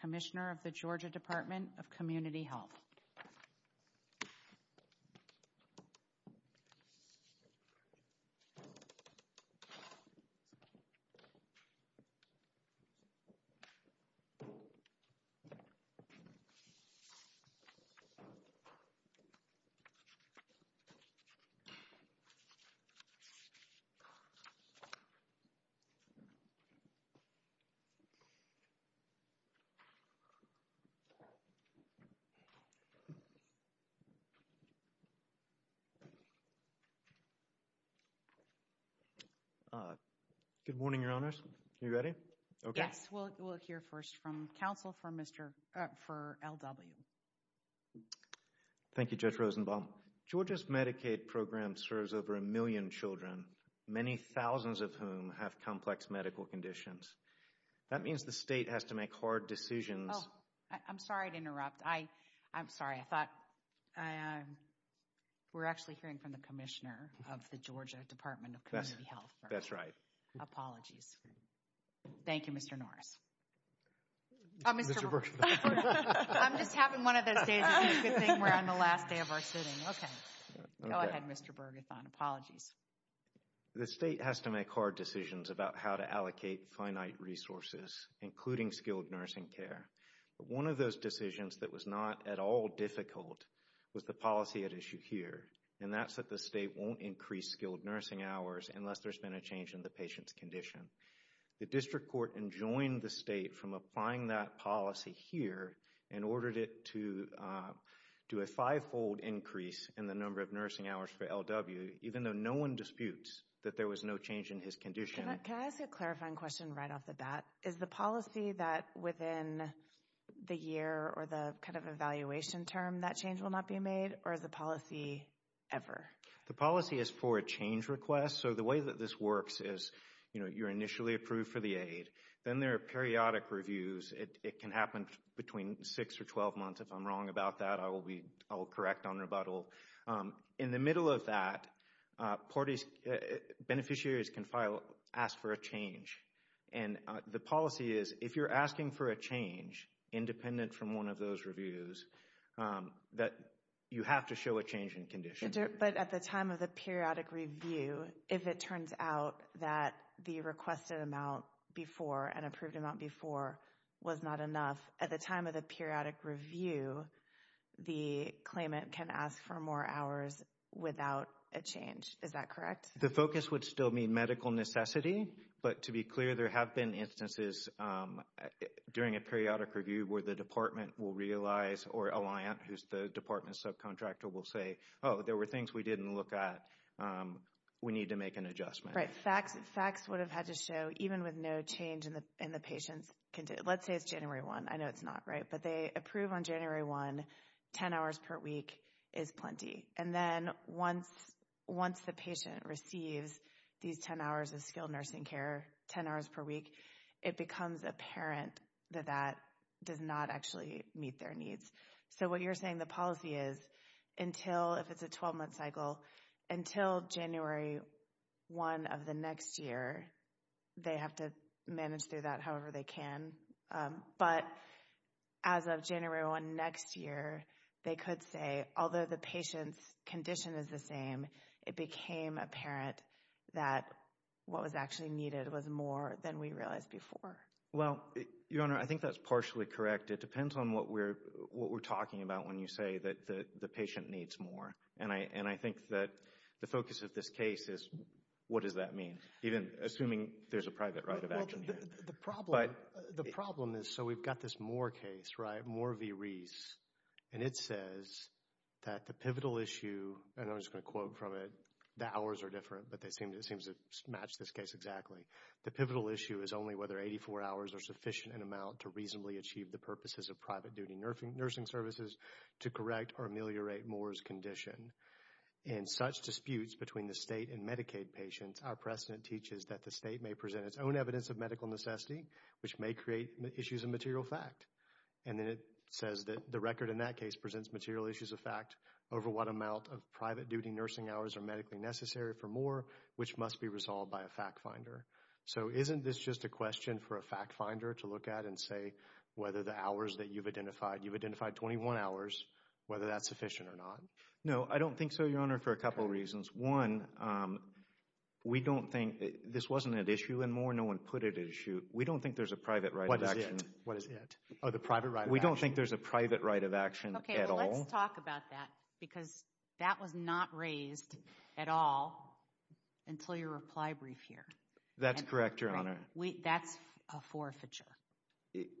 Commissioner of the Georgia Department of Community Health. Good morning, Your Honors. Are you ready? Yes. We'll hear first from counsel for L.W. Thank you, Judge Rosenbaum. Georgia's Medicaid program serves over a million children, many thousands of whom have complex medical conditions. That means the state has to make hard decisions. Oh, I'm sorry to interrupt. I'm sorry. I thought we're actually hearing from the Commissioner of the Georgia Department of Community Health. That's right. Apologies. Thank you, Mr. Norris. Mr. Bergethon. I'm just having one of those days where I'm the last day of our sitting. Okay. Go ahead, Mr. Bergethon. Apologies. The state has to make hard decisions about how to allocate finite resources, including skilled nursing care. One of those decisions that was not at all difficult was the policy at issue here, and that's that the state won't increase skilled nursing hours unless there's been a change in the patient's condition. The district court enjoined the state from applying that policy here and ordered it to do a five-fold increase in the number of nursing hours for LW, even though no one disputes that there was no change in his condition. Can I ask a clarifying question right off the bat? Is the policy that within the year or the kind of evaluation term, that change will not be made? Or is the policy ever? The policy is for a change request. So the way that this works is, you know, you're initially approved for the aid. Then there are periodic reviews. It can happen between six or 12 months. If I'm wrong about that, I will correct on rebuttal. In the middle of that, beneficiaries can ask for a change. And the policy is, if you're asking for a change independent from one of those reviews, that you have to show a change in condition. But at the time of the periodic review, if it turns out that the requested amount before and approved amount before was not enough, at the time of the periodic review, the claimant can ask for more hours without a change. Is that correct? The focus would still be medical necessity. But to be clear, there have been instances during a periodic review where the department will realize or Alliant, who's the department subcontractor, will say, oh, there were things we didn't look at. We need to make an adjustment. Right. Facts would have had to show, even with no change in the patient's condition. Let's say it's January 1. I know it's not, right? But they approve on January 1, 10 hours per week is plenty. And then once the patient receives these 10 hours of skilled nursing care, 10 hours per week, it becomes apparent that that does not actually meet their needs. So what you're saying, the policy is until, if it's a 12-month cycle, until January 1 of the next year, they have to manage through that however they can. But as of January 1 next year, they could say, although the patient's condition is the same, it became apparent that what was actually needed was more than we realized before. Well, Your Honor, I think that's partially correct. It depends on what we're talking about when you say that the patient needs more. And I think that the focus of this case is, what does that mean? Even assuming there's a private right of action here. The problem is, so we've got this Moore case, right? Moore v. Reese. And it says that the pivotal issue, and I'm just going to quote from it, the hours are different, but it seems to match this case exactly. The pivotal issue is only whether 84 hours are sufficient in amount to reasonably achieve the purposes of private duty nursing services to correct or ameliorate Moore's condition. In such disputes between the state and Medicaid patients, our precedent teaches that the state may present its own evidence of medical necessity, which may create issues of material fact. And then it says that the record in that case presents material issues of fact over what amount of private duty nursing hours are medically necessary for Moore, which must be resolved by a fact finder. So isn't this just a question for a fact finder to look at and say whether the hours that you've identified, you've identified 21 hours, whether that's sufficient or not? No, I don't think so, Your Honor, for a couple reasons. One, we don't think, this wasn't an issue in Moore, no one put it at issue, we don't think there's a private right of action. What is it? What is it? Oh, the private right of action. We don't think there's a private right of action at all. Okay, well let's talk about that because that was not raised at all until your reply brief here. That's correct, Your Honor. That's a forfeiture.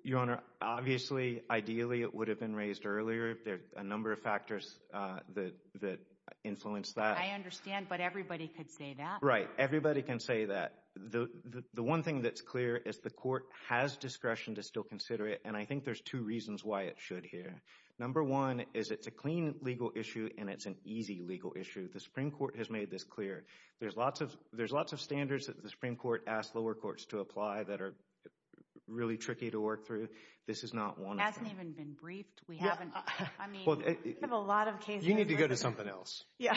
Your Honor, obviously, ideally, it would have been raised earlier. There's a number of factors that influence that. I understand, but everybody could say that. Right, everybody can say that. The one thing that's clear is the court has discretion to still consider it and I think there's two reasons why it should here. Number one is it's a clean legal issue and it's an easy legal issue. The Supreme Court has made this clear. There's lots of standards that the Supreme Court asked lower courts to apply that are really tricky to work through. This is not one of them. It hasn't even been briefed. We haven't, I mean, we have a lot of cases. You need to go to something else. Yeah.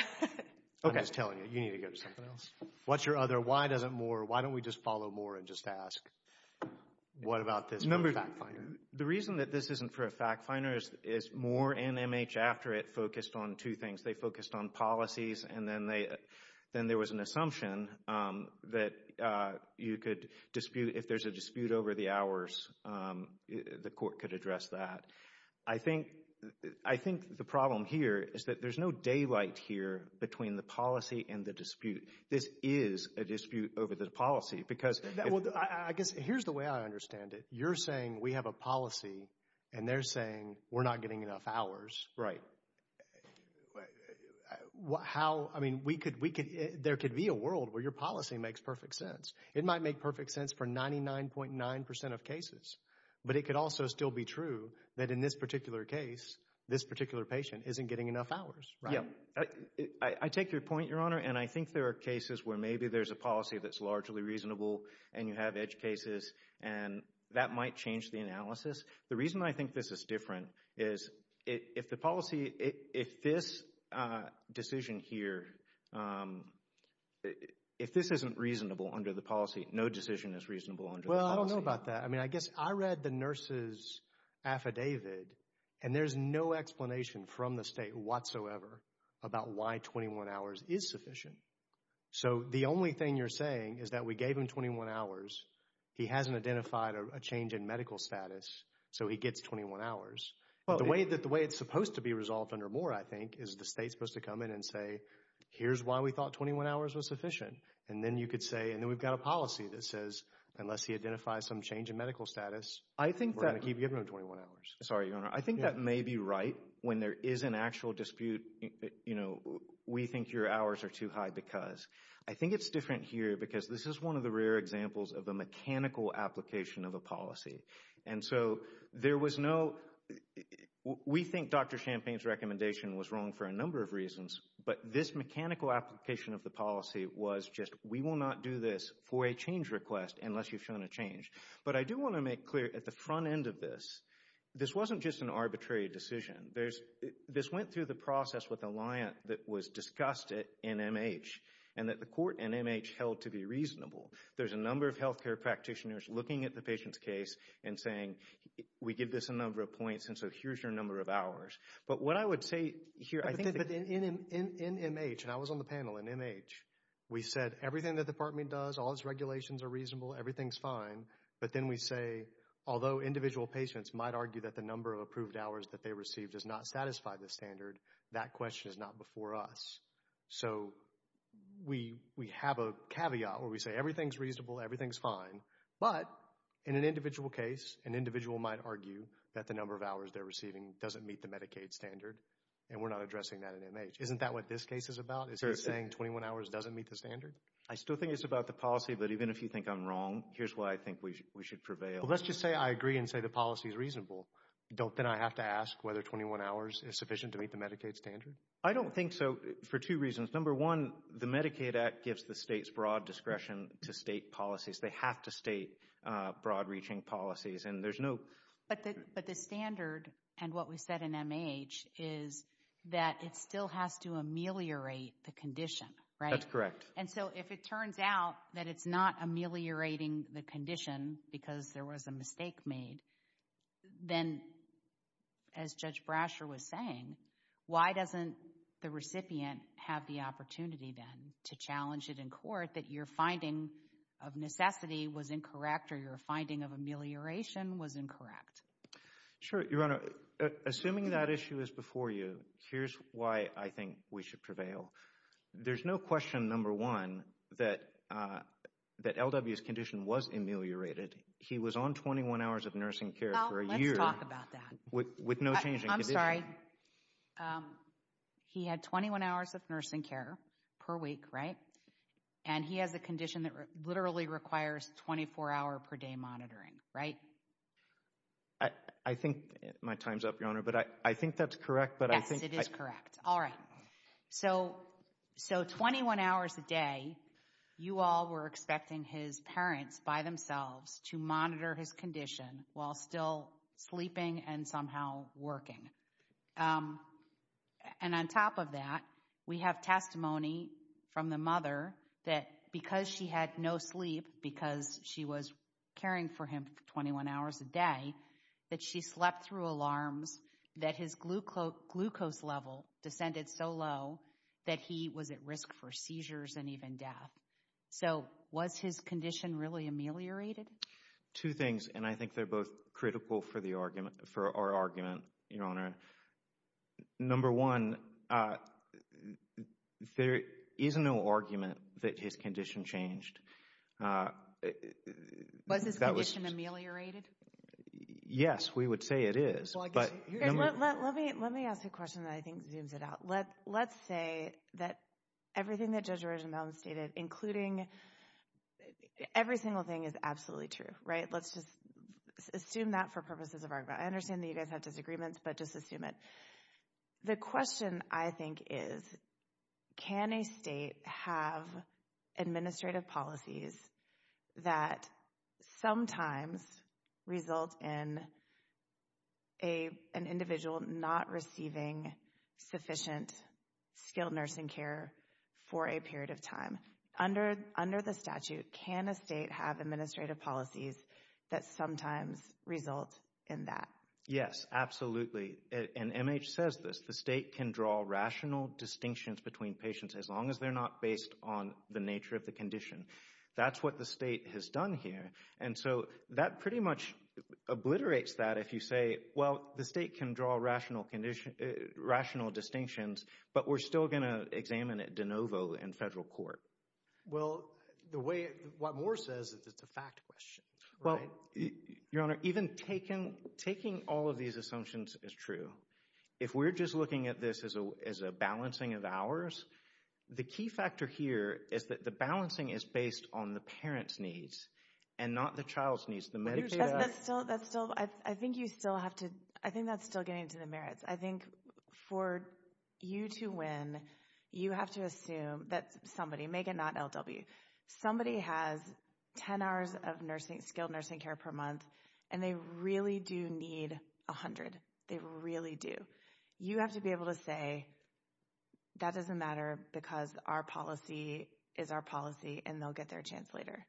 Okay. I'm just telling you, you need to go to something else. What's your other, why doesn't Moore, why don't we just follow Moore and just ask, what about this for a fact finder? The reason that this isn't for a fact finder is Moore and MH after it focused on two things. They focused on policies and then they, then there was an assumption that you could dispute, if there's a dispute over the hours, the court could address that. I think, I think the problem here is that there's no daylight here between the policy and the dispute. This is a dispute over the policy because. Well, I guess, here's the way I understand it. You're saying we have a policy and they're saying we're not getting enough hours. Right. How, I mean, we could, there could be a world where your policy makes perfect sense. It might make perfect sense for 99.9% of cases, but it could also still be true that in this particular case, this particular patient isn't getting enough hours, right? Yeah. I take your point, Your Honor, and I think there are cases where maybe there's a policy that's largely reasonable and you have edge cases and that might change the analysis. The reason I think this is different is if the policy, if this decision here, if this isn't reasonable under the policy, no decision is reasonable under the policy. Well, I don't know about that. I mean, I guess I read the nurse's affidavit and there's no explanation from the state whatsoever about why 21 hours is sufficient. So, the only thing you're saying is that we gave him 21 hours. He hasn't identified a change in medical status. So, he gets 21 hours. The way that, the way it's supposed to be resolved under Moore, I think, is the state's supposed to come in and say, here's why we thought 21 hours was sufficient. And then you could say, and then we've got a policy that says unless he identifies some change in medical status, we're going to keep giving him 21 hours. Sorry, Your Honor. I think that may be right when there is an actual dispute, you know, we think your hours are too high because. I think it's different here because this is one of the rare examples of a mechanical application of a policy. And so, there was no, we think Dr. Champagne's recommendation was wrong for a number of reasons, but this mechanical application of the policy was just, we will not do this for a change request unless you've shown a change. But I do want to make clear, at the front end of this, this wasn't just an arbitrary decision. This went through the process with Alliant that was discussed at NMH, and that the court at NMH held to be reasonable. There's a number of healthcare practitioners looking at the patient's case and saying, we give this a number of points, and so here's your number of hours. But what I would say here, I think. But in NMH, and I was on the panel in NMH, we said everything the department does, all its regulations are reasonable, everything's fine. But then we say, although individual patients might argue that the number of approved hours that they receive does not satisfy the standard, that question is not before us. So, we have a caveat where we say everything's reasonable, everything's fine, but in an individual case, an individual might argue that the number of hours they're receiving doesn't meet the Medicaid standard, and we're not addressing that in NMH. Isn't that what this case is about? Is he saying 21 hours doesn't meet the standard? I still think it's about the policy, but even if you think I'm wrong, here's why I think we should prevail. Let's just say I agree and say the policy's reasonable. Don't then I have to ask whether 21 hours is sufficient to meet the Medicaid standard? I don't think so, for two reasons. Number one, the Medicaid Act gives the states broad discretion to state policies. They have to state broad-reaching policies, and there's no... But the standard, and what we said in NMH, is that it still has to ameliorate the condition, right? That's correct. And so if it turns out that it's not ameliorating the condition because there was a mistake made, then as Judge Brasher was saying, why doesn't the recipient have the opportunity then to challenge it in court that your finding of necessity was incorrect or your finding of amelioration was incorrect? Sure, Your Honor. Assuming that issue is before you, here's why I think we should prevail. There's no question, number one, that L.W.'s condition was ameliorated. He was on 21 hours of nursing care for a year. Well, let's talk about that. With no change in condition. I'm sorry. He had 21 hours of nursing care per week, right? And he has a condition that literally requires 24-hour per day monitoring, right? I think my time's up, Your Honor, but I think that's correct. Yes, it is correct. All right. So 21 hours a day, you all were expecting his parents by themselves to monitor his condition while still sleeping and somehow working. And on top of that, we have testimony from the mother that because she had no sleep, because she was caring for him for 21 hours a day, that she slept through alarms, that his glucose level descended so low that he was at risk for seizures and even death. So was his condition really ameliorated? Two things, and I think they're both critical for our argument, Your Honor. Number one, there is no argument that his condition changed. Was his condition ameliorated? Yes, we would say it is. Let me ask a question that I think zooms it out. Let's say that everything that Judge Originbaum stated, including every single thing, is absolutely true, right? Let's just assume that for purposes of argument. I understand that you guys have disagreements, but just assume it. The question I think is, can a state have administrative policies that sometimes result in an individual not receiving sufficient skilled nursing care for a period of time? Under the statute, can a state have administrative policies that sometimes result in that? Yes, absolutely. And MH says this. The state can draw rational distinctions between patients as long as they're not based on the nature of the condition. That's what the state has done here. And so that pretty much obliterates that if you say, well, the state can draw rational distinctions, but we're still going to examine it de novo in federal court. Well, what Moore says is it's a fact question, right? Well, Your Honor, even taking all of these assumptions is true. If we're just looking at this as a balancing of hours, the key factor here is that the balancing is based on the parent's needs and not the child's needs. The Medicaid act— That's still—I think you still have to—I think that's still getting to the merits. I think for you to win, you have to assume that somebody—Megan, not LW— somebody has 10 hours of skilled nursing care per month, and they really do need 100. They really do. You have to be able to say, that doesn't matter because our policy is our policy, and they'll get their chance later.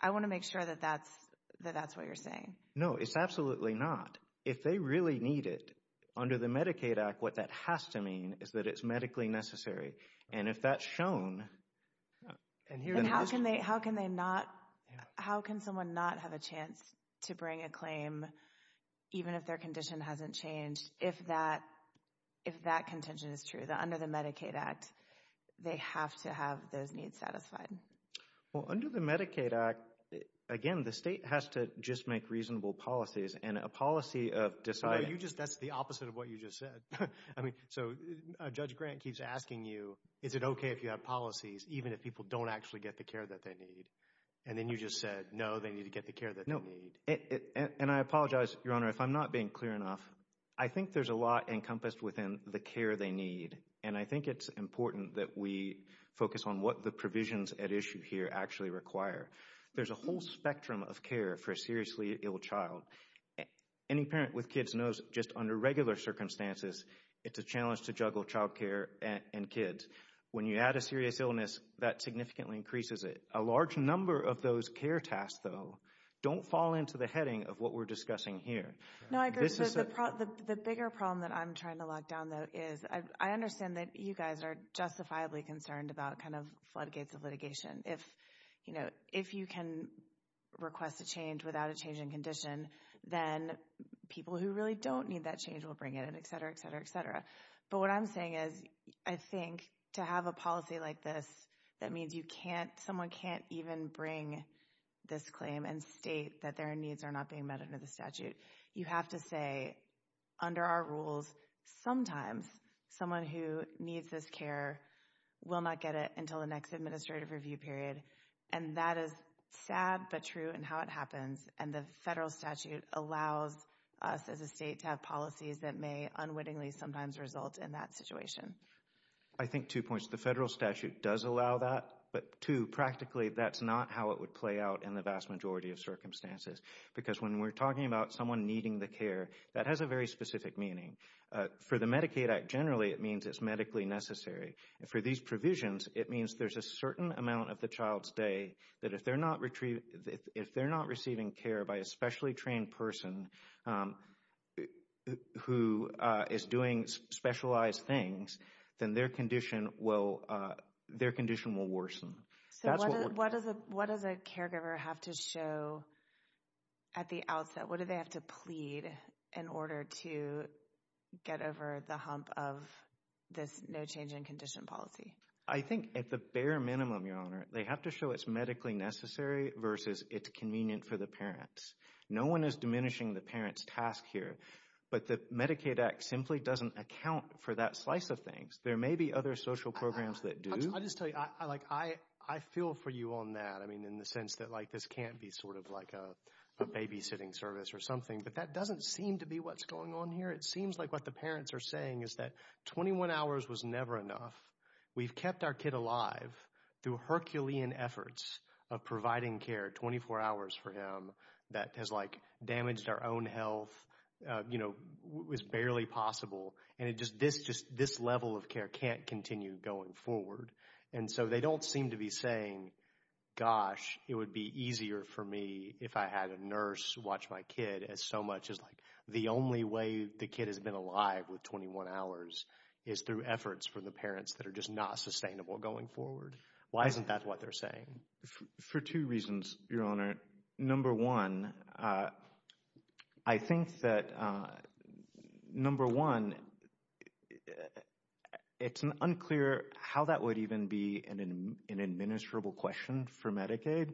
I want to make sure that that's what you're saying. No, it's absolutely not. If they really need it, under the Medicaid act, what that has to mean is that it's medically necessary. And if that's shown— And how can they not—how can someone not have a chance to bring a claim, even if their condition hasn't changed, if that contention is true? Under the Medicaid act, they have to have those needs satisfied. Well, under the Medicaid act, again, the state has to just make reasonable policies, and a policy of deciding— No, you just—that's the opposite of what you just said. I mean, so Judge Grant keeps asking you, is it okay if you have policies even if people don't actually get the care that they need? And then you just said, no, they need to get the care that they need. And I apologize, Your Honor, if I'm not being clear enough. I think there's a lot encompassed within the care they need, and I think it's important that we focus on what the provisions at issue here actually require. There's a whole spectrum of care for a seriously ill child. Any parent with kids knows just under regular circumstances, it's a challenge to juggle child care and kids. When you add a serious illness, that significantly increases it. A large number of those care tasks, though, don't fall into the heading of what we're discussing here. No, I agree. The bigger problem that I'm trying to lock down, though, is I understand that you guys are justifiably concerned about kind of floodgates of litigation. If you can request a change without a change in condition, then people who really don't need that change will bring it in, etc., etc., etc. But what I'm saying is I think to have a policy like this that means someone can't even bring this claim and state that their needs are not being met under the statute, you have to say, under our rules, sometimes someone who needs this care will not get it until the next administrative review period. And that is sad but true in how it happens, and the federal statute allows us as a state to have policies that may unwittingly sometimes result in that situation. I think two points. The federal statute does allow that, but two, practically that's not how it would play out in the vast majority of circumstances because when we're talking about someone needing the care, that has a very specific meaning. For the Medicaid Act, generally it means it's medically necessary. For these provisions, it means there's a certain amount of the child's day that if they're not receiving care by a specially trained person who is doing specialized things, then their condition will worsen. So what does a caregiver have to show at the outset? What do they have to plead in order to get over the hump of this no change in condition policy? I think at the bare minimum, Your Honor, they have to show it's medically necessary versus it's convenient for the parents. No one is diminishing the parent's task here, but the Medicaid Act simply doesn't account for that slice of things. There may be other social programs that do. I just tell you, I feel for you on that, in the sense that this can't be a babysitting service or something, but that doesn't seem to be what's going on here. It seems like what the parents are saying is that 21 hours was never enough. We've kept our kid alive through Herculean efforts of providing care 24 hours for him that has damaged our own health, was barely possible, and this level of care can't continue going forward. And so they don't seem to be saying, gosh, it would be easier for me if I had a nurse watch my kid, as so much as the only way the kid has been alive with 21 hours is through efforts from the parents that are just not sustainable going forward. Why isn't that what they're saying? For two reasons, Your Honor. Number one, I think that, number one, it's unclear how that would even be an administrable question for Medicaid.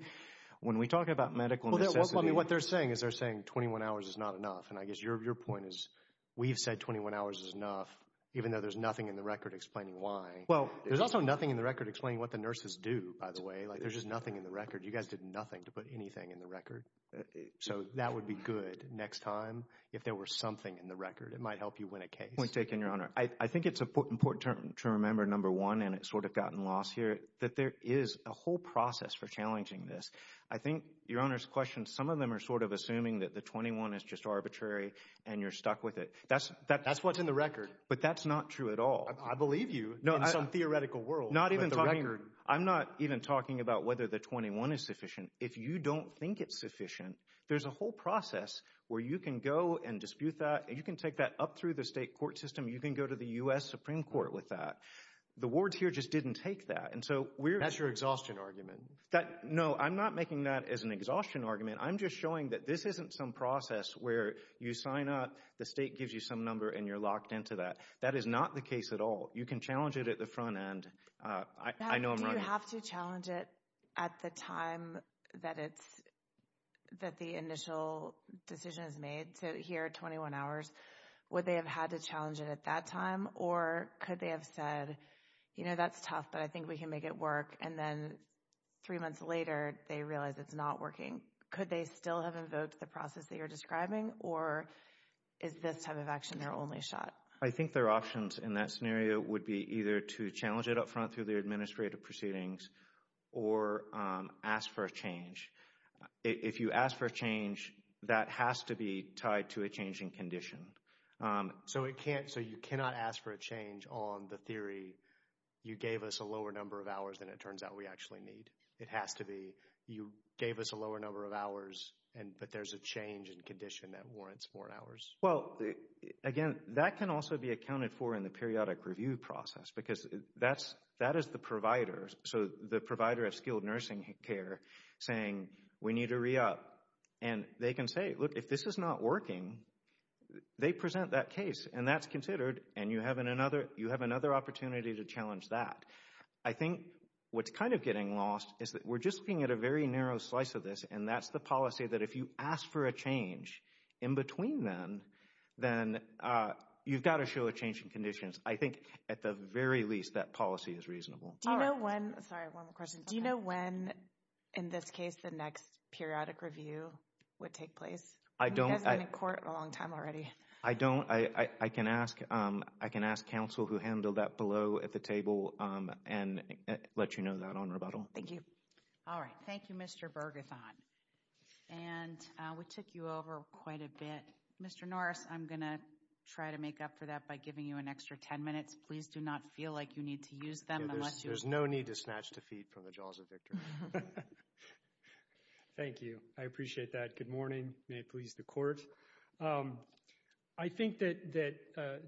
When we talk about medical necessity. What they're saying is they're saying 21 hours is not enough, and I guess your point is we've said 21 hours is enough, even though there's nothing in the record explaining why. Well, there's also nothing in the record explaining what the nurses do, by the way. There's just nothing in the record. You guys did nothing to put anything in the record. So that would be good next time if there were something in the record. It might help you win a case. Point taken, Your Honor. I think it's important to remember, number one, and it's sort of gotten lost here, that there is a whole process for challenging this. I think, Your Honor's question, some of them are sort of assuming that the 21 is just arbitrary and you're stuck with it. That's what's in the record. But that's not true at all. I believe you in some theoretical world. I'm not even talking about whether the 21 is sufficient. If you don't think it's sufficient, there's a whole process where you can go and dispute that. You can take that up through the state court system. You can go to the U.S. Supreme Court with that. The wards here just didn't take that. That's your exhaustion argument. No, I'm not making that as an exhaustion argument. I'm just showing that this isn't some process where you sign up, the state gives you some number, and you're locked into that. That is not the case at all. You can challenge it at the front end. Do you have to challenge it at the time that the initial decision is made to hear 21 hours? Would they have had to challenge it at that time? Or could they have said, you know, that's tough, but I think we can make it work. And then three months later, they realize it's not working. Could they still have invoked the process that you're describing? Or is this type of action their only shot? I think their options in that scenario would be either to challenge it up front through their administrative proceedings or ask for a change. If you ask for a change, that has to be tied to a changing condition. So you cannot ask for a change on the theory, you gave us a lower number of hours than it turns out we actually need. It has to be you gave us a lower number of hours, but there's a change in condition that warrants four hours. Well, again, that can also be accounted for in the periodic review process because that is the provider. So the provider of skilled nursing care saying we need to re-up. And they can say, look, if this is not working, they present that case, and that's considered, and you have another opportunity to challenge that. I think what's kind of getting lost is that we're just looking at a very narrow slice of this, and that's the policy that if you ask for a change in between them, then you've got to show a change in conditions. I think at the very least that policy is reasonable. Do you know when, sorry, one more question. Do you know when, in this case, the next periodic review would take place? You guys have been in court a long time already. I don't. I can ask counsel who handled that below at the table and let you know that on rebuttal. Thank you. All right. Thank you, Mr. Bergethon. And we took you over quite a bit. Mr. Norris, I'm going to try to make up for that by giving you an extra ten minutes. Please do not feel like you need to use them. There's no need to snatch defeat from the jaws of victory. Thank you. I appreciate that. Good morning. May it please the Court. I think that,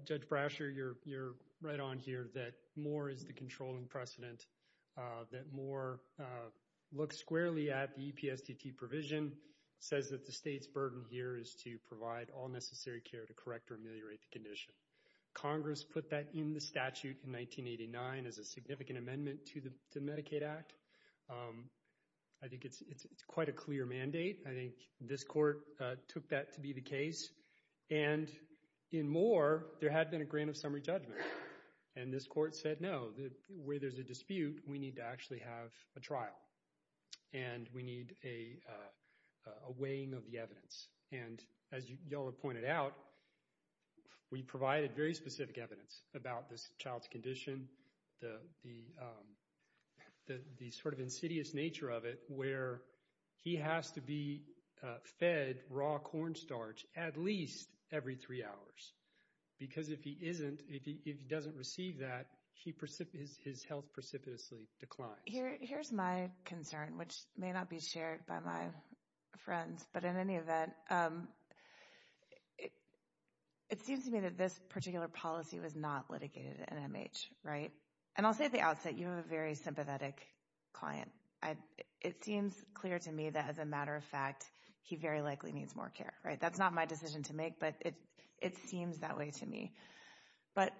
Judge Brasher, you're right on here that more is the controlling precedent, that more looks squarely at the EPSDT provision, says that the state's burden here is to provide all necessary care to correct or ameliorate the condition. Congress put that in the statute in 1989 as a significant amendment to the Medicaid Act. I think it's quite a clear mandate. I think this Court took that to be the case. And in more, there had been a grant of summary judgment. And this Court said, no, where there's a dispute, we need to actually have a trial, and we need a weighing of the evidence. And as you all have pointed out, we provided very specific evidence about this child's condition, the sort of insidious nature of it where he has to be fed raw cornstarch at least every three hours because if he isn't, if he doesn't receive that, his health precipitously declines. Here's my concern, which may not be shared by my friends, but in any event, it seems to me that this particular policy was not litigated at NMH, right? And I'll say at the outset, you have a very sympathetic client. It seems clear to me that, as a matter of fact, he very likely needs more care, right? That's not my decision to make, but it seems that way to me. But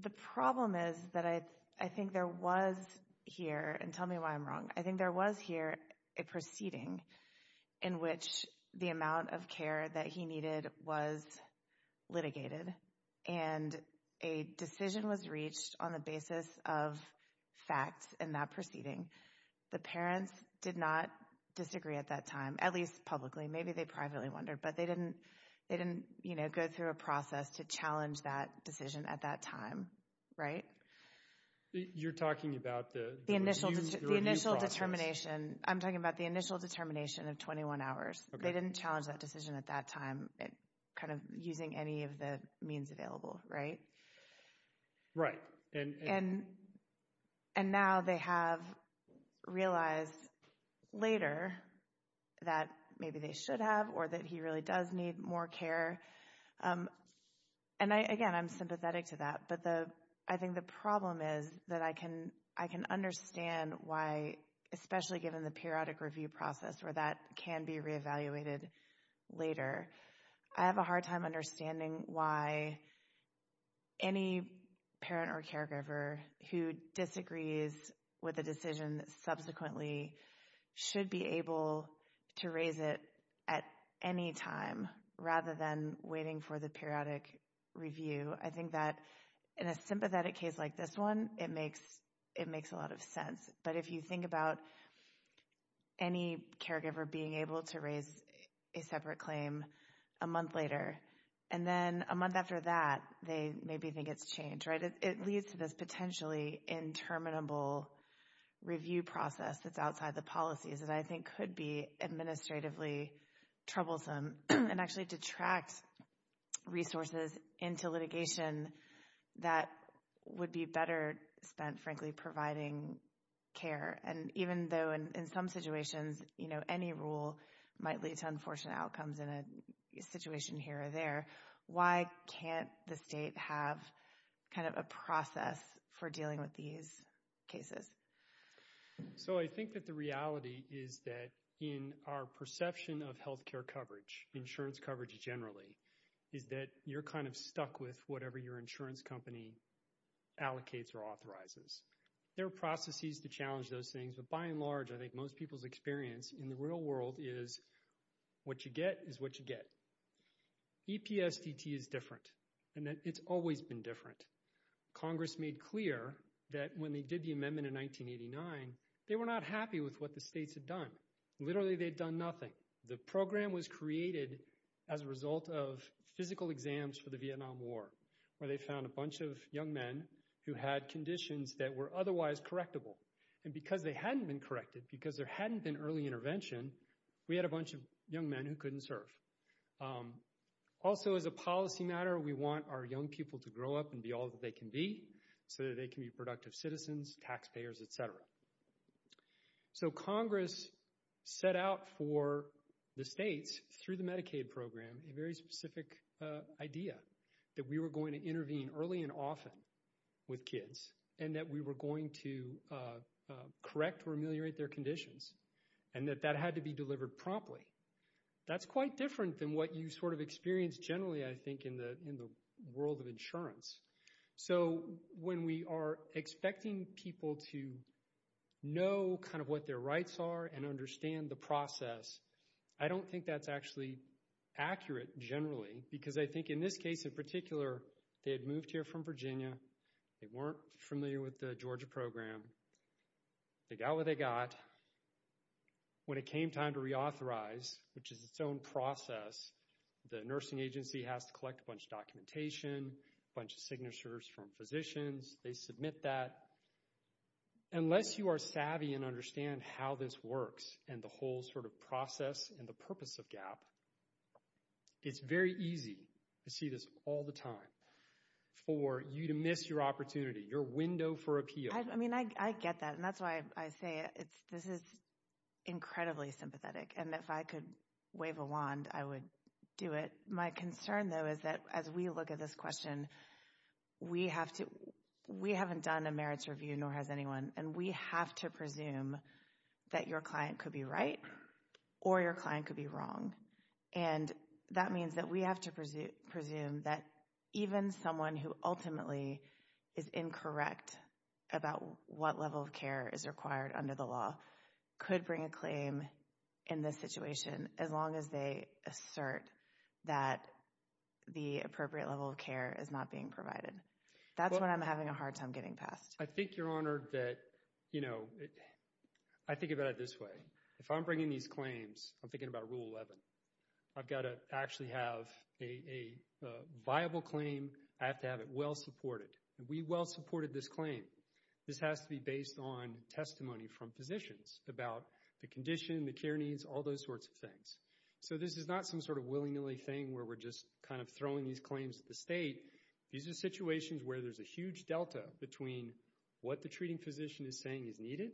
the problem is that I think there was here, and tell me why I'm wrong, I think there was here a proceeding in which the amount of care that he needed was litigated, and a decision was reached on the basis of facts in that proceeding. The parents did not disagree at that time, at least publicly. Maybe they privately wondered, but they didn't go through a process to challenge that decision at that time, right? You're talking about the review process? The initial determination. I'm talking about the initial determination of 21 hours. They didn't challenge that decision at that time, kind of using any of the means available, right? Right. And now they have realized later that maybe they should have, or that he really does need more care. And again, I'm sympathetic to that, but I think the problem is that I can understand why, especially given the periodic review process where that can be reevaluated later, I have a hard time understanding why any parent or caregiver who disagrees with a decision subsequently should be able to raise it at any time, rather than waiting for the periodic review. I think that in a sympathetic case like this one, it makes a lot of sense. But if you think about any caregiver being able to raise a separate claim a month later, and then a month after that, they maybe think it's changed, right? It leads to this potentially interminable review process that's outside the policies that I think could be administratively troublesome and actually detract resources into litigation that would be better spent, frankly, providing care. And even though in some situations any rule might lead to unfortunate outcomes in a situation here or there, why can't the state have kind of a process for dealing with these cases? So I think that the reality is that in our perception of health care coverage, insurance coverage generally, is that you're kind of stuck with whatever your insurance company allocates or authorizes. There are processes to challenge those things, but by and large, I think most people's experience in the real world is what you get is what you get. EPSDT is different, and it's always been different. Congress made clear that when they did the amendment in 1989, they were not happy with what the states had done. Literally, they'd done nothing. The program was created as a result of physical exams for the Vietnam War, where they found a bunch of young men who had conditions that were otherwise correctable. And because they hadn't been corrected, because there hadn't been early intervention, we had a bunch of young men who couldn't serve. Also, as a policy matter, we want our young people to grow up and be all that they can be so that they can be productive citizens, taxpayers, et cetera. So Congress set out for the states, through the Medicaid program, a very specific idea that we were going to intervene early and often with kids and that we were going to correct or ameliorate their conditions and that that had to be delivered promptly. That's quite different than what you sort of experience generally, I think, in the world of insurance. So when we are expecting people to know kind of what their rights are and understand the process, I don't think that's actually accurate generally because I think in this case in particular, they had moved here from Virginia. They weren't familiar with the Georgia program. They got what they got. When it came time to reauthorize, which is its own process, the nursing agency has to collect a bunch of documentation, a bunch of signatures from physicians. They submit that. Unless you are savvy and understand how this works and the whole sort of process and the purpose of GAAP, it's very easy to see this all the time for you to miss your opportunity, your window for appeal. I mean, I get that, and that's why I say this is incredibly sympathetic, and if I could wave a wand, I would do it. My concern, though, is that as we look at this question, we haven't done a merits review, nor has anyone, and we have to presume that your client could be right or your client could be wrong. And that means that we have to presume that even someone who ultimately is incorrect about what level of care is required under the law could bring a claim in this situation as long as they assert that the appropriate level of care is not being provided. That's when I'm having a hard time getting past. I think, Your Honor, that, you know, I think about it this way. If I'm bringing these claims, I'm thinking about Rule 11. I've got to actually have a viable claim. I have to have it well supported. We well supported this claim. This has to be based on testimony from physicians about the condition, the care needs, all those sorts of things. So this is not some sort of willy-nilly thing where we're just kind of throwing these claims to the state. These are situations where there's a huge delta between what the treating physician is saying is needed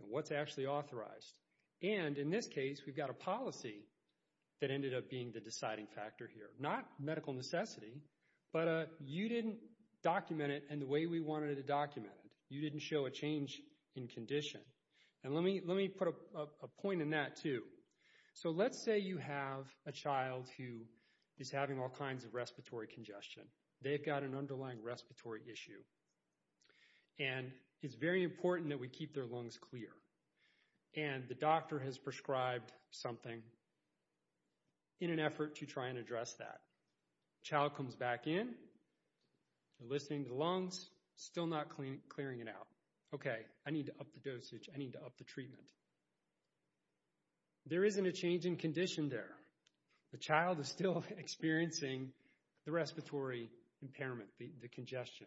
and what's actually authorized. And in this case, we've got a policy that ended up being the deciding factor here, not medical necessity, but you didn't document it in the way we wanted it documented. You didn't show a change in condition. And let me put a point in that too. So let's say you have a child who is having all kinds of respiratory congestion. They've got an underlying respiratory issue. And it's very important that we keep their lungs clear. And the doctor has prescribed something in an effort to try and address that. Child comes back in, listening to the lungs, still not clearing it out. Okay, I need to up the dosage. I need to up the treatment. There isn't a change in condition there. The child is still experiencing the respiratory impairment, the congestion.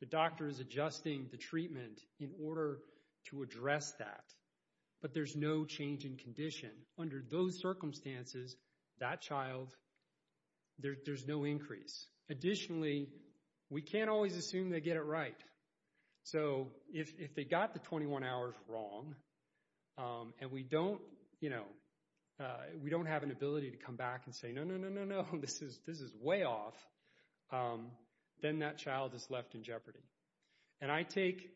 The doctor is adjusting the treatment in order to address that. But there's no change in condition. Under those circumstances, that child, there's no increase. Additionally, we can't always assume they get it right. So if they got the 21 hours wrong and we don't have an ability to come back and say, no, no, no, no, no, this is way off, then that child is left in jeopardy. And I take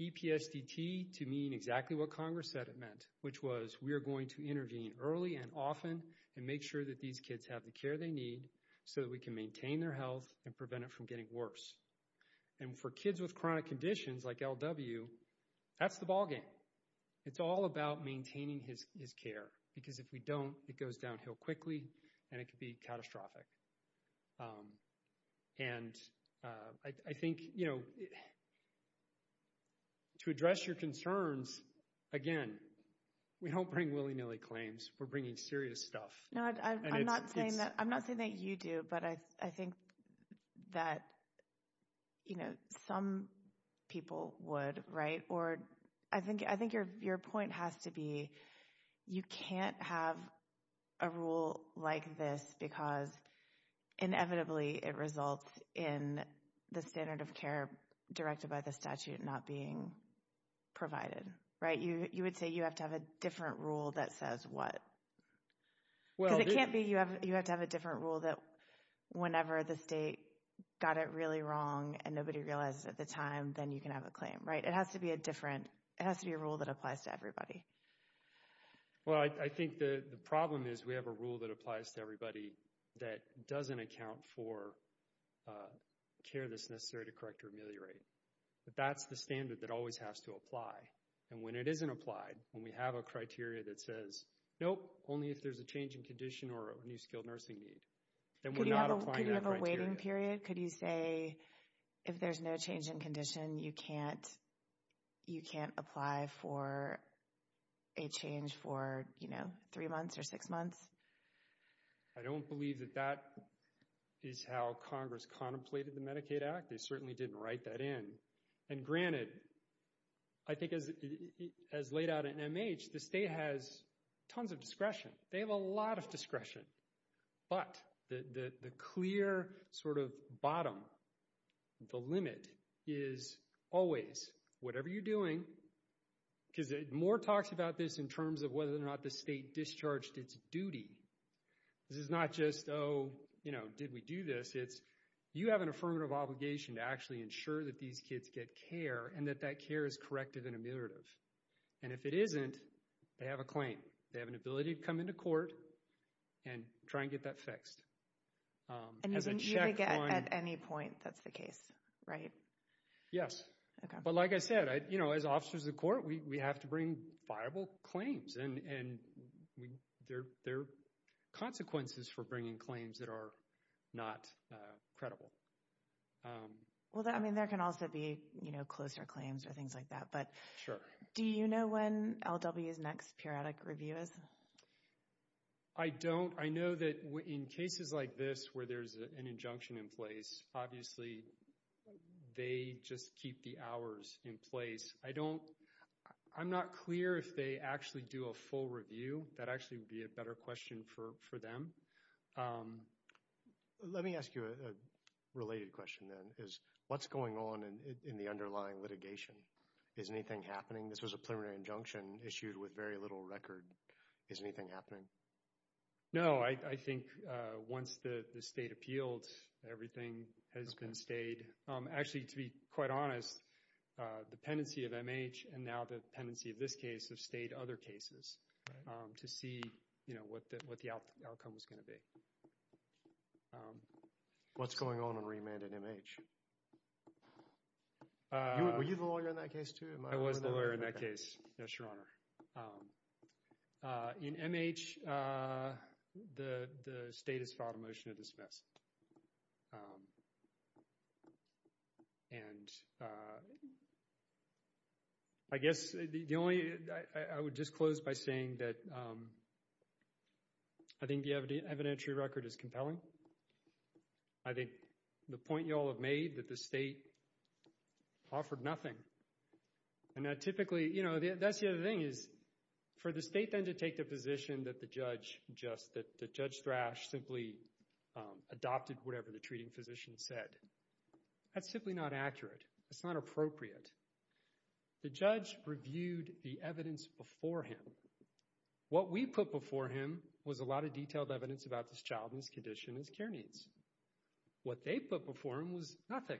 EPSDT to mean exactly what Congress said it meant, which was we are going to intervene early and often and make sure that these kids have the care they need so that we can maintain their health and prevent it from getting worse. And for kids with chronic conditions like LW, that's the ballgame. It's all about maintaining his care because if we don't, it goes downhill quickly and it could be catastrophic. And I think, you know, to address your concerns, again, we don't bring willy-nilly claims. We're bringing serious stuff. I'm not saying that you do, but I think that, you know, some people would, right? Or I think your point has to be you can't have a rule like this because inevitably it results in the standard of care directed by the statute not being provided, right? You would say you have to have a different rule that says what? Because it can't be you have to have a different rule that whenever the state got it really wrong and nobody realized it at the time, then you can have a claim, right? It has to be a different—it has to be a rule that applies to everybody. Well, I think the problem is we have a rule that applies to everybody that doesn't account for care that's necessary to correct or ameliorate. But that's the standard that always has to apply. And when it isn't applied, when we have a criteria that says, nope, only if there's a change in condition or a new skilled nursing need, then we're not applying that criteria. Could you have a waiting period? Could you say if there's no change in condition, you can't apply for a change for, you know, three months or six months? I don't believe that that is how Congress contemplated the Medicaid Act. They certainly didn't write that in. And granted, I think as laid out in MH, the state has tons of discretion. They have a lot of discretion. But the clear sort of bottom, the limit is always whatever you're doing, because more talks about this in terms of whether or not the state discharged its duty. This is not just, oh, you know, did we do this? It's you have an affirmative obligation to actually ensure that these kids get care and that that care is corrective and ameliorative. And if it isn't, they have a claim. They have an ability to come into court and try and get that fixed. And you would get at any point that's the case, right? Yes. But like I said, you know, as officers of the court, we have to bring viable claims. And there are consequences for bringing claims that are not credible. Well, I mean, there can also be, you know, closer claims or things like that. Sure. Do you know when LW's next periodic review is? I don't. I know that in cases like this where there's an injunction in place, obviously they just keep the hours in place. I'm not clear if they actually do a full review. That actually would be a better question for them. Let me ask you a related question then, is what's going on in the underlying litigation? Is anything happening? This was a preliminary injunction issued with very little record. Is anything happening? No. I think once the state appealed, everything has been stayed. Actually, to be quite honest, the pendency of MH and now the pendency of this case have stayed other cases to see, you know, what the outcome was going to be. What's going on in remand at MH? Were you the lawyer in that case too? I was the lawyer in that case. Yes, Your Honor. In MH, the state has filed a motion to dismiss. And I guess the only, I would just close by saying that I think the evidentiary record is compelling. I think the point you all have made that the state offered nothing. And that typically, you know, that's the other thing, is for the state then to take the position that the judge just, that Judge Thrash simply adopted whatever the treating physician said. That's simply not accurate. That's not appropriate. The judge reviewed the evidence before him. What we put before him was a lot of detailed evidence about this child and his condition and his care needs. What they put before him was nothing.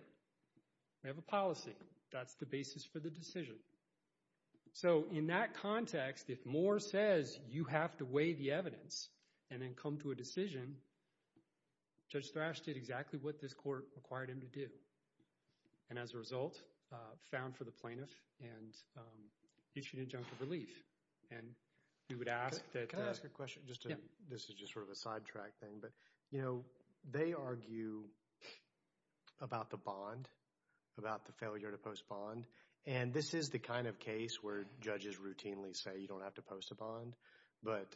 We have a policy. That's the basis for the decision. So in that context, if MH says you have to weigh the evidence and then come to a decision, Judge Thrash did exactly what this court required him to do. And as a result, found for the plaintiff and issued injunctive relief. And we would ask that. Can I ask a question? This is just sort of a sidetrack thing. But, you know, they argue about the bond, about the failure to post bond. And this is the kind of case where judges routinely say you don't have to post a bond. But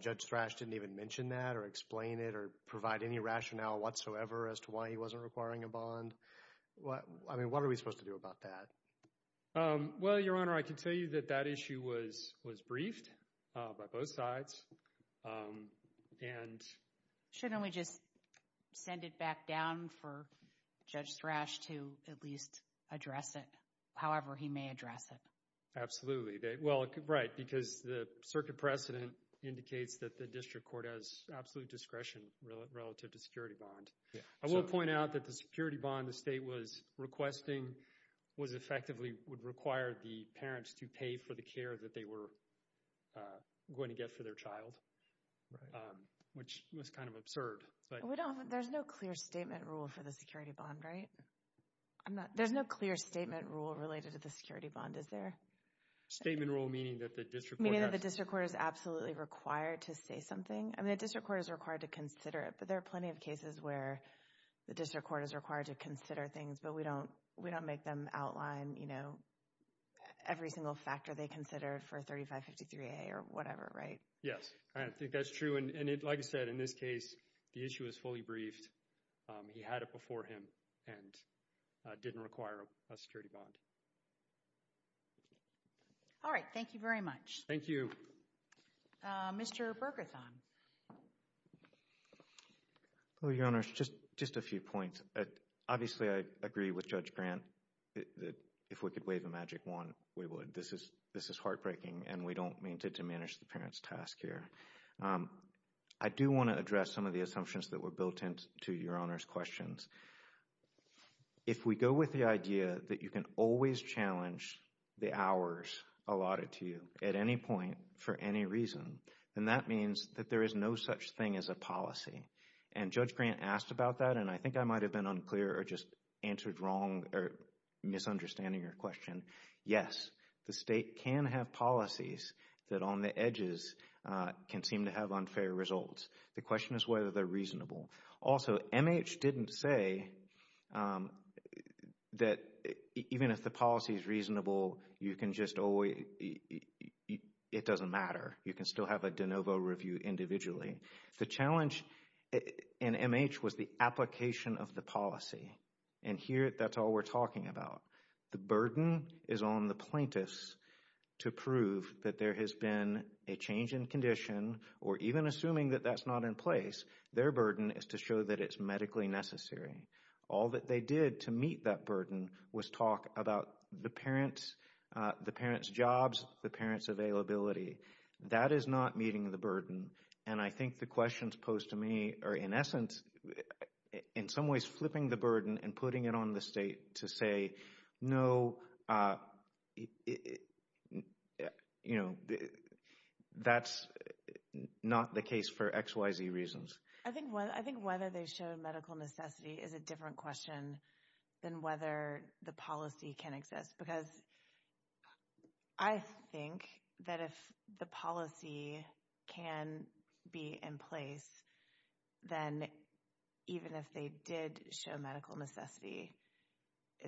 Judge Thrash didn't even mention that or explain it or provide any rationale whatsoever as to why he wasn't requiring a bond. I mean, what are we supposed to do about that? Well, Your Honor, I can tell you that that issue was briefed by both sides. Shouldn't we just send it back down for Judge Thrash to at least address it, however he may address it? Absolutely. Well, right, because the circuit precedent indicates that the district court has absolute discretion relative to security bond. I will point out that the security bond the state was requesting was effectively would require the parents to pay for the care that they were going to get for their child, which was kind of absurd. There's no clear statement rule for the security bond, right? There's no clear statement rule related to the security bond, is there? Statement rule meaning that the district court has… Meaning that the district court is absolutely required to say something? I mean, the district court is required to consider it, but there are plenty of cases where the district court is required to consider things, but we don't make them outline, you know, every single factor they consider for 3553A or whatever, right? Yes, I think that's true. And like I said, in this case, the issue was fully briefed. He had it before him and didn't require a security bond. All right, thank you very much. Thank you. Mr. Bergerthon. Well, Your Honors, just a few points. Obviously, I agree with Judge Grant that if we could wave a magic wand, we would. This is heartbreaking, and we don't mean to diminish the parents' task here. I do want to address some of the assumptions that were built into Your Honors' questions. If we go with the idea that you can always challenge the hours allotted to you at any point for any reason, then that means that there is no such thing as a policy. And Judge Grant asked about that, and I think I might have been unclear or just answered wrong or misunderstanding your question. Yes, the state can have policies that on the edges can seem to have unfair results. The question is whether they're reasonable. Also, MH didn't say that even if the policy is reasonable, it doesn't matter. You can still have a de novo review individually. The challenge in MH was the application of the policy, and here that's all we're talking about. The burden is on the plaintiffs to prove that there has been a change in condition or even assuming that that's not in place. Their burden is to show that it's medically necessary. All that they did to meet that burden was talk about the parents, the parents' jobs, the parents' availability. That is not meeting the burden. And I think the questions posed to me are, in essence, in some ways flipping the burden and putting it on the state to say, no, that's not the case for X, Y, Z reasons. I think whether they show medical necessity is a different question than whether the policy can exist. Because I think that if the policy can be in place, then even if they did show medical necessity,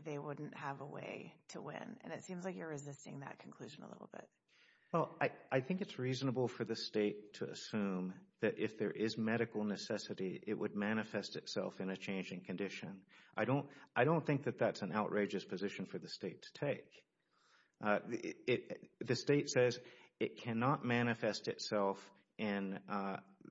they wouldn't have a way to win. And it seems like you're resisting that conclusion a little bit. Well, I think it's reasonable for the state to assume that if there is medical necessity, it would manifest itself in a change in condition. I don't think that that's an outrageous position for the state to take. The state says it cannot manifest itself in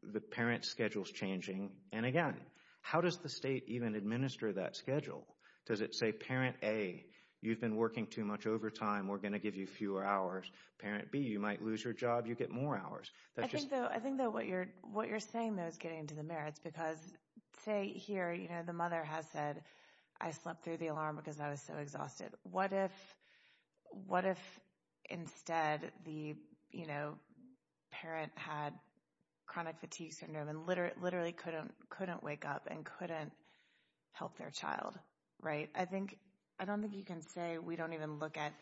the parents' schedules changing. And again, how does the state even administer that schedule? Does it say, parent A, you've been working too much overtime. We're going to give you fewer hours. Parent B, you might lose your job. You get more hours. I think, though, what you're saying, though, is getting to the merits. Because say here the mother has said, I slept through the alarm because I was so exhausted. What if instead the parent had chronic fatigue syndrome and literally couldn't wake up and couldn't help their child? I don't think you can say we don't even look at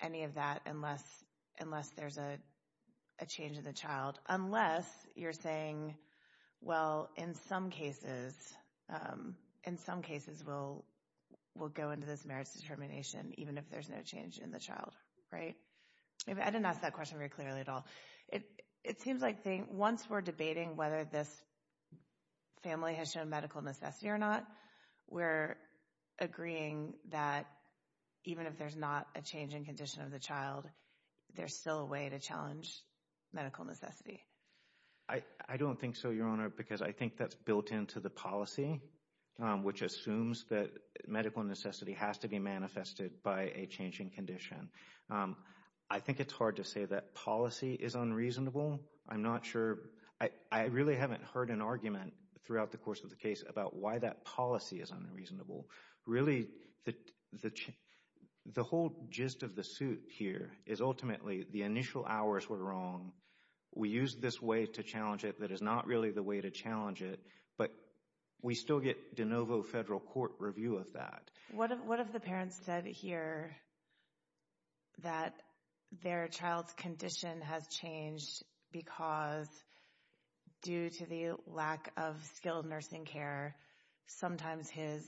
any of that unless there's a change in the child. Unless you're saying, well, in some cases we'll go into this merits determination even if there's no change in the child. I didn't ask that question very clearly at all. It seems like once we're debating whether this family has shown medical necessity or not, we're agreeing that even if there's not a change in condition of the child, there's still a way to challenge medical necessity. I don't think so, Your Honor, because I think that's built into the policy, which assumes that medical necessity has to be manifested by a change in condition. I think it's hard to say that policy is unreasonable. I'm not sure. I really haven't heard an argument throughout the course of the case about why that policy is unreasonable. Really, the whole gist of the suit here is ultimately the initial hours were wrong. We used this way to challenge it that is not really the way to challenge it. But we still get de novo federal court review of that. What if the parents said here that their child's condition has changed because due to the lack of skilled nursing care, sometimes his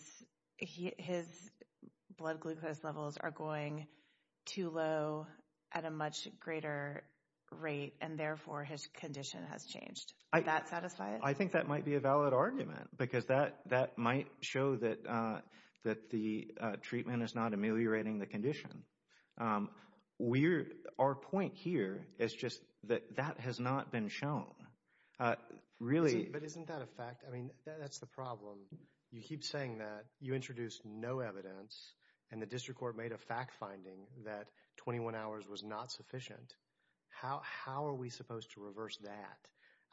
blood glucose levels are going too low at a much greater rate, and therefore his condition has changed? Would that satisfy it? I think that might be a valid argument because that might show that the treatment is not ameliorating the condition. Our point here is just that that has not been shown. But isn't that a fact? I mean, that's the problem. You keep saying that you introduced no evidence, and the district court made a fact finding that 21 hours was not sufficient. How are we supposed to reverse that?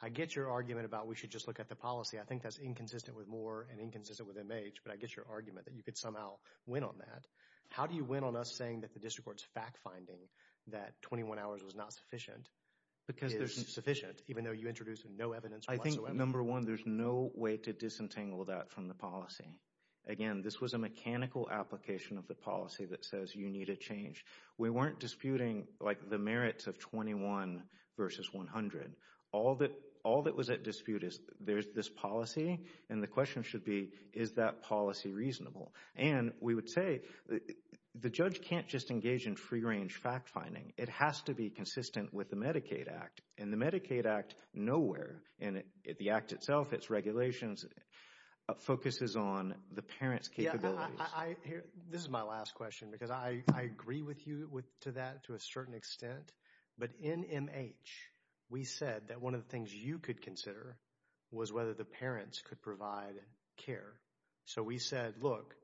I get your argument about we should just look at the policy. I think that's inconsistent with Moore and inconsistent with MH, but I get your argument that you could somehow win on that. How do you win on us saying that the district court's fact finding that 21 hours was not sufficient is sufficient, even though you introduced no evidence whatsoever? I think, number one, there's no way to disentangle that from the policy. Again, this was a mechanical application of the policy that says you need a change. We weren't disputing the merits of 21 versus 100. All that was at dispute is there's this policy, and the question should be, is that policy reasonable? And we would say the judge can't just engage in free-range fact finding. It has to be consistent with the Medicaid Act. In the Medicaid Act, nowhere in the Act itself, its regulations, focuses on the parent's capabilities. This is my last question because I agree with you to that to a certain extent. But in MH, we said that one of the things you could consider was whether the parents could provide care. So we said, look,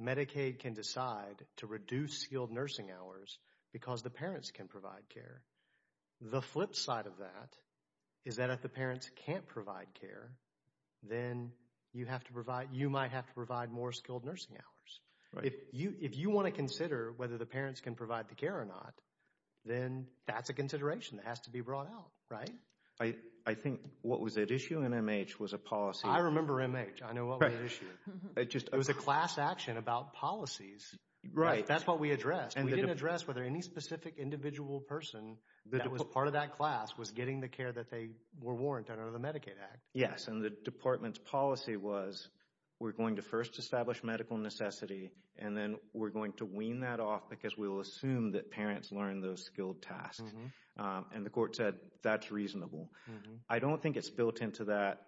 Medicaid can decide to reduce skilled nursing hours because the parents can provide care. The flip side of that is that if the parents can't provide care, then you might have to provide more skilled nursing hours. If you want to consider whether the parents can provide the care or not, then that's a consideration that has to be brought out, right? I think what was at issue in MH was a policy. I remember MH. I know what was at issue. It was a class action about policies. Right. That's what we addressed. We didn't address whether any specific individual person that was part of that class was getting the care that they were warranted under the Medicaid Act. Yes, and the department's policy was we're going to first establish medical necessity and then we're going to wean that off because we'll assume that parents learn those skilled tasks. And the court said that's reasonable. I don't think it's built into that.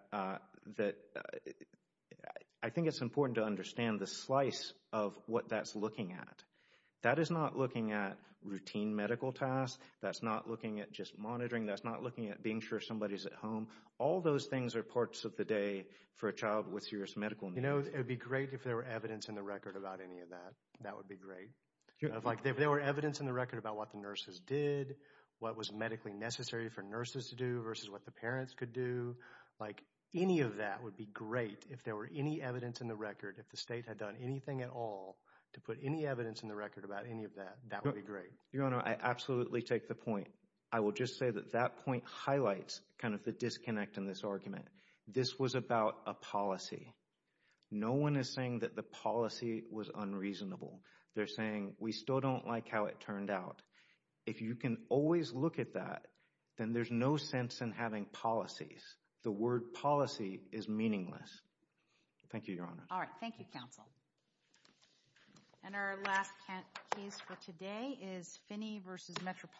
I think it's important to understand the slice of what that's looking at. That is not looking at routine medical tasks. That's not looking at just monitoring. That's not looking at being sure somebody's at home. All those things are parts of the day for a child with serious medical needs. It would be great if there were evidence in the record about any of that. That would be great. If there were evidence in the record about what the nurses did, what was medically necessary for nurses to do versus what the parents could do, any of that would be great. If there were any evidence in the record, if the state had done anything at all to put any evidence in the record about any of that, that would be great. I absolutely take the point. I will just say that that point highlights kind of the disconnect in this argument. This was about a policy. No one is saying that the policy was unreasonable. They're saying we still don't like how it turned out. If you can always look at that, then there's no sense in having policies. The word policy is meaningless. Thank you, Your Honor. All right. Thank you, counsel. And our last case for today is Phinney v. Metropolitan.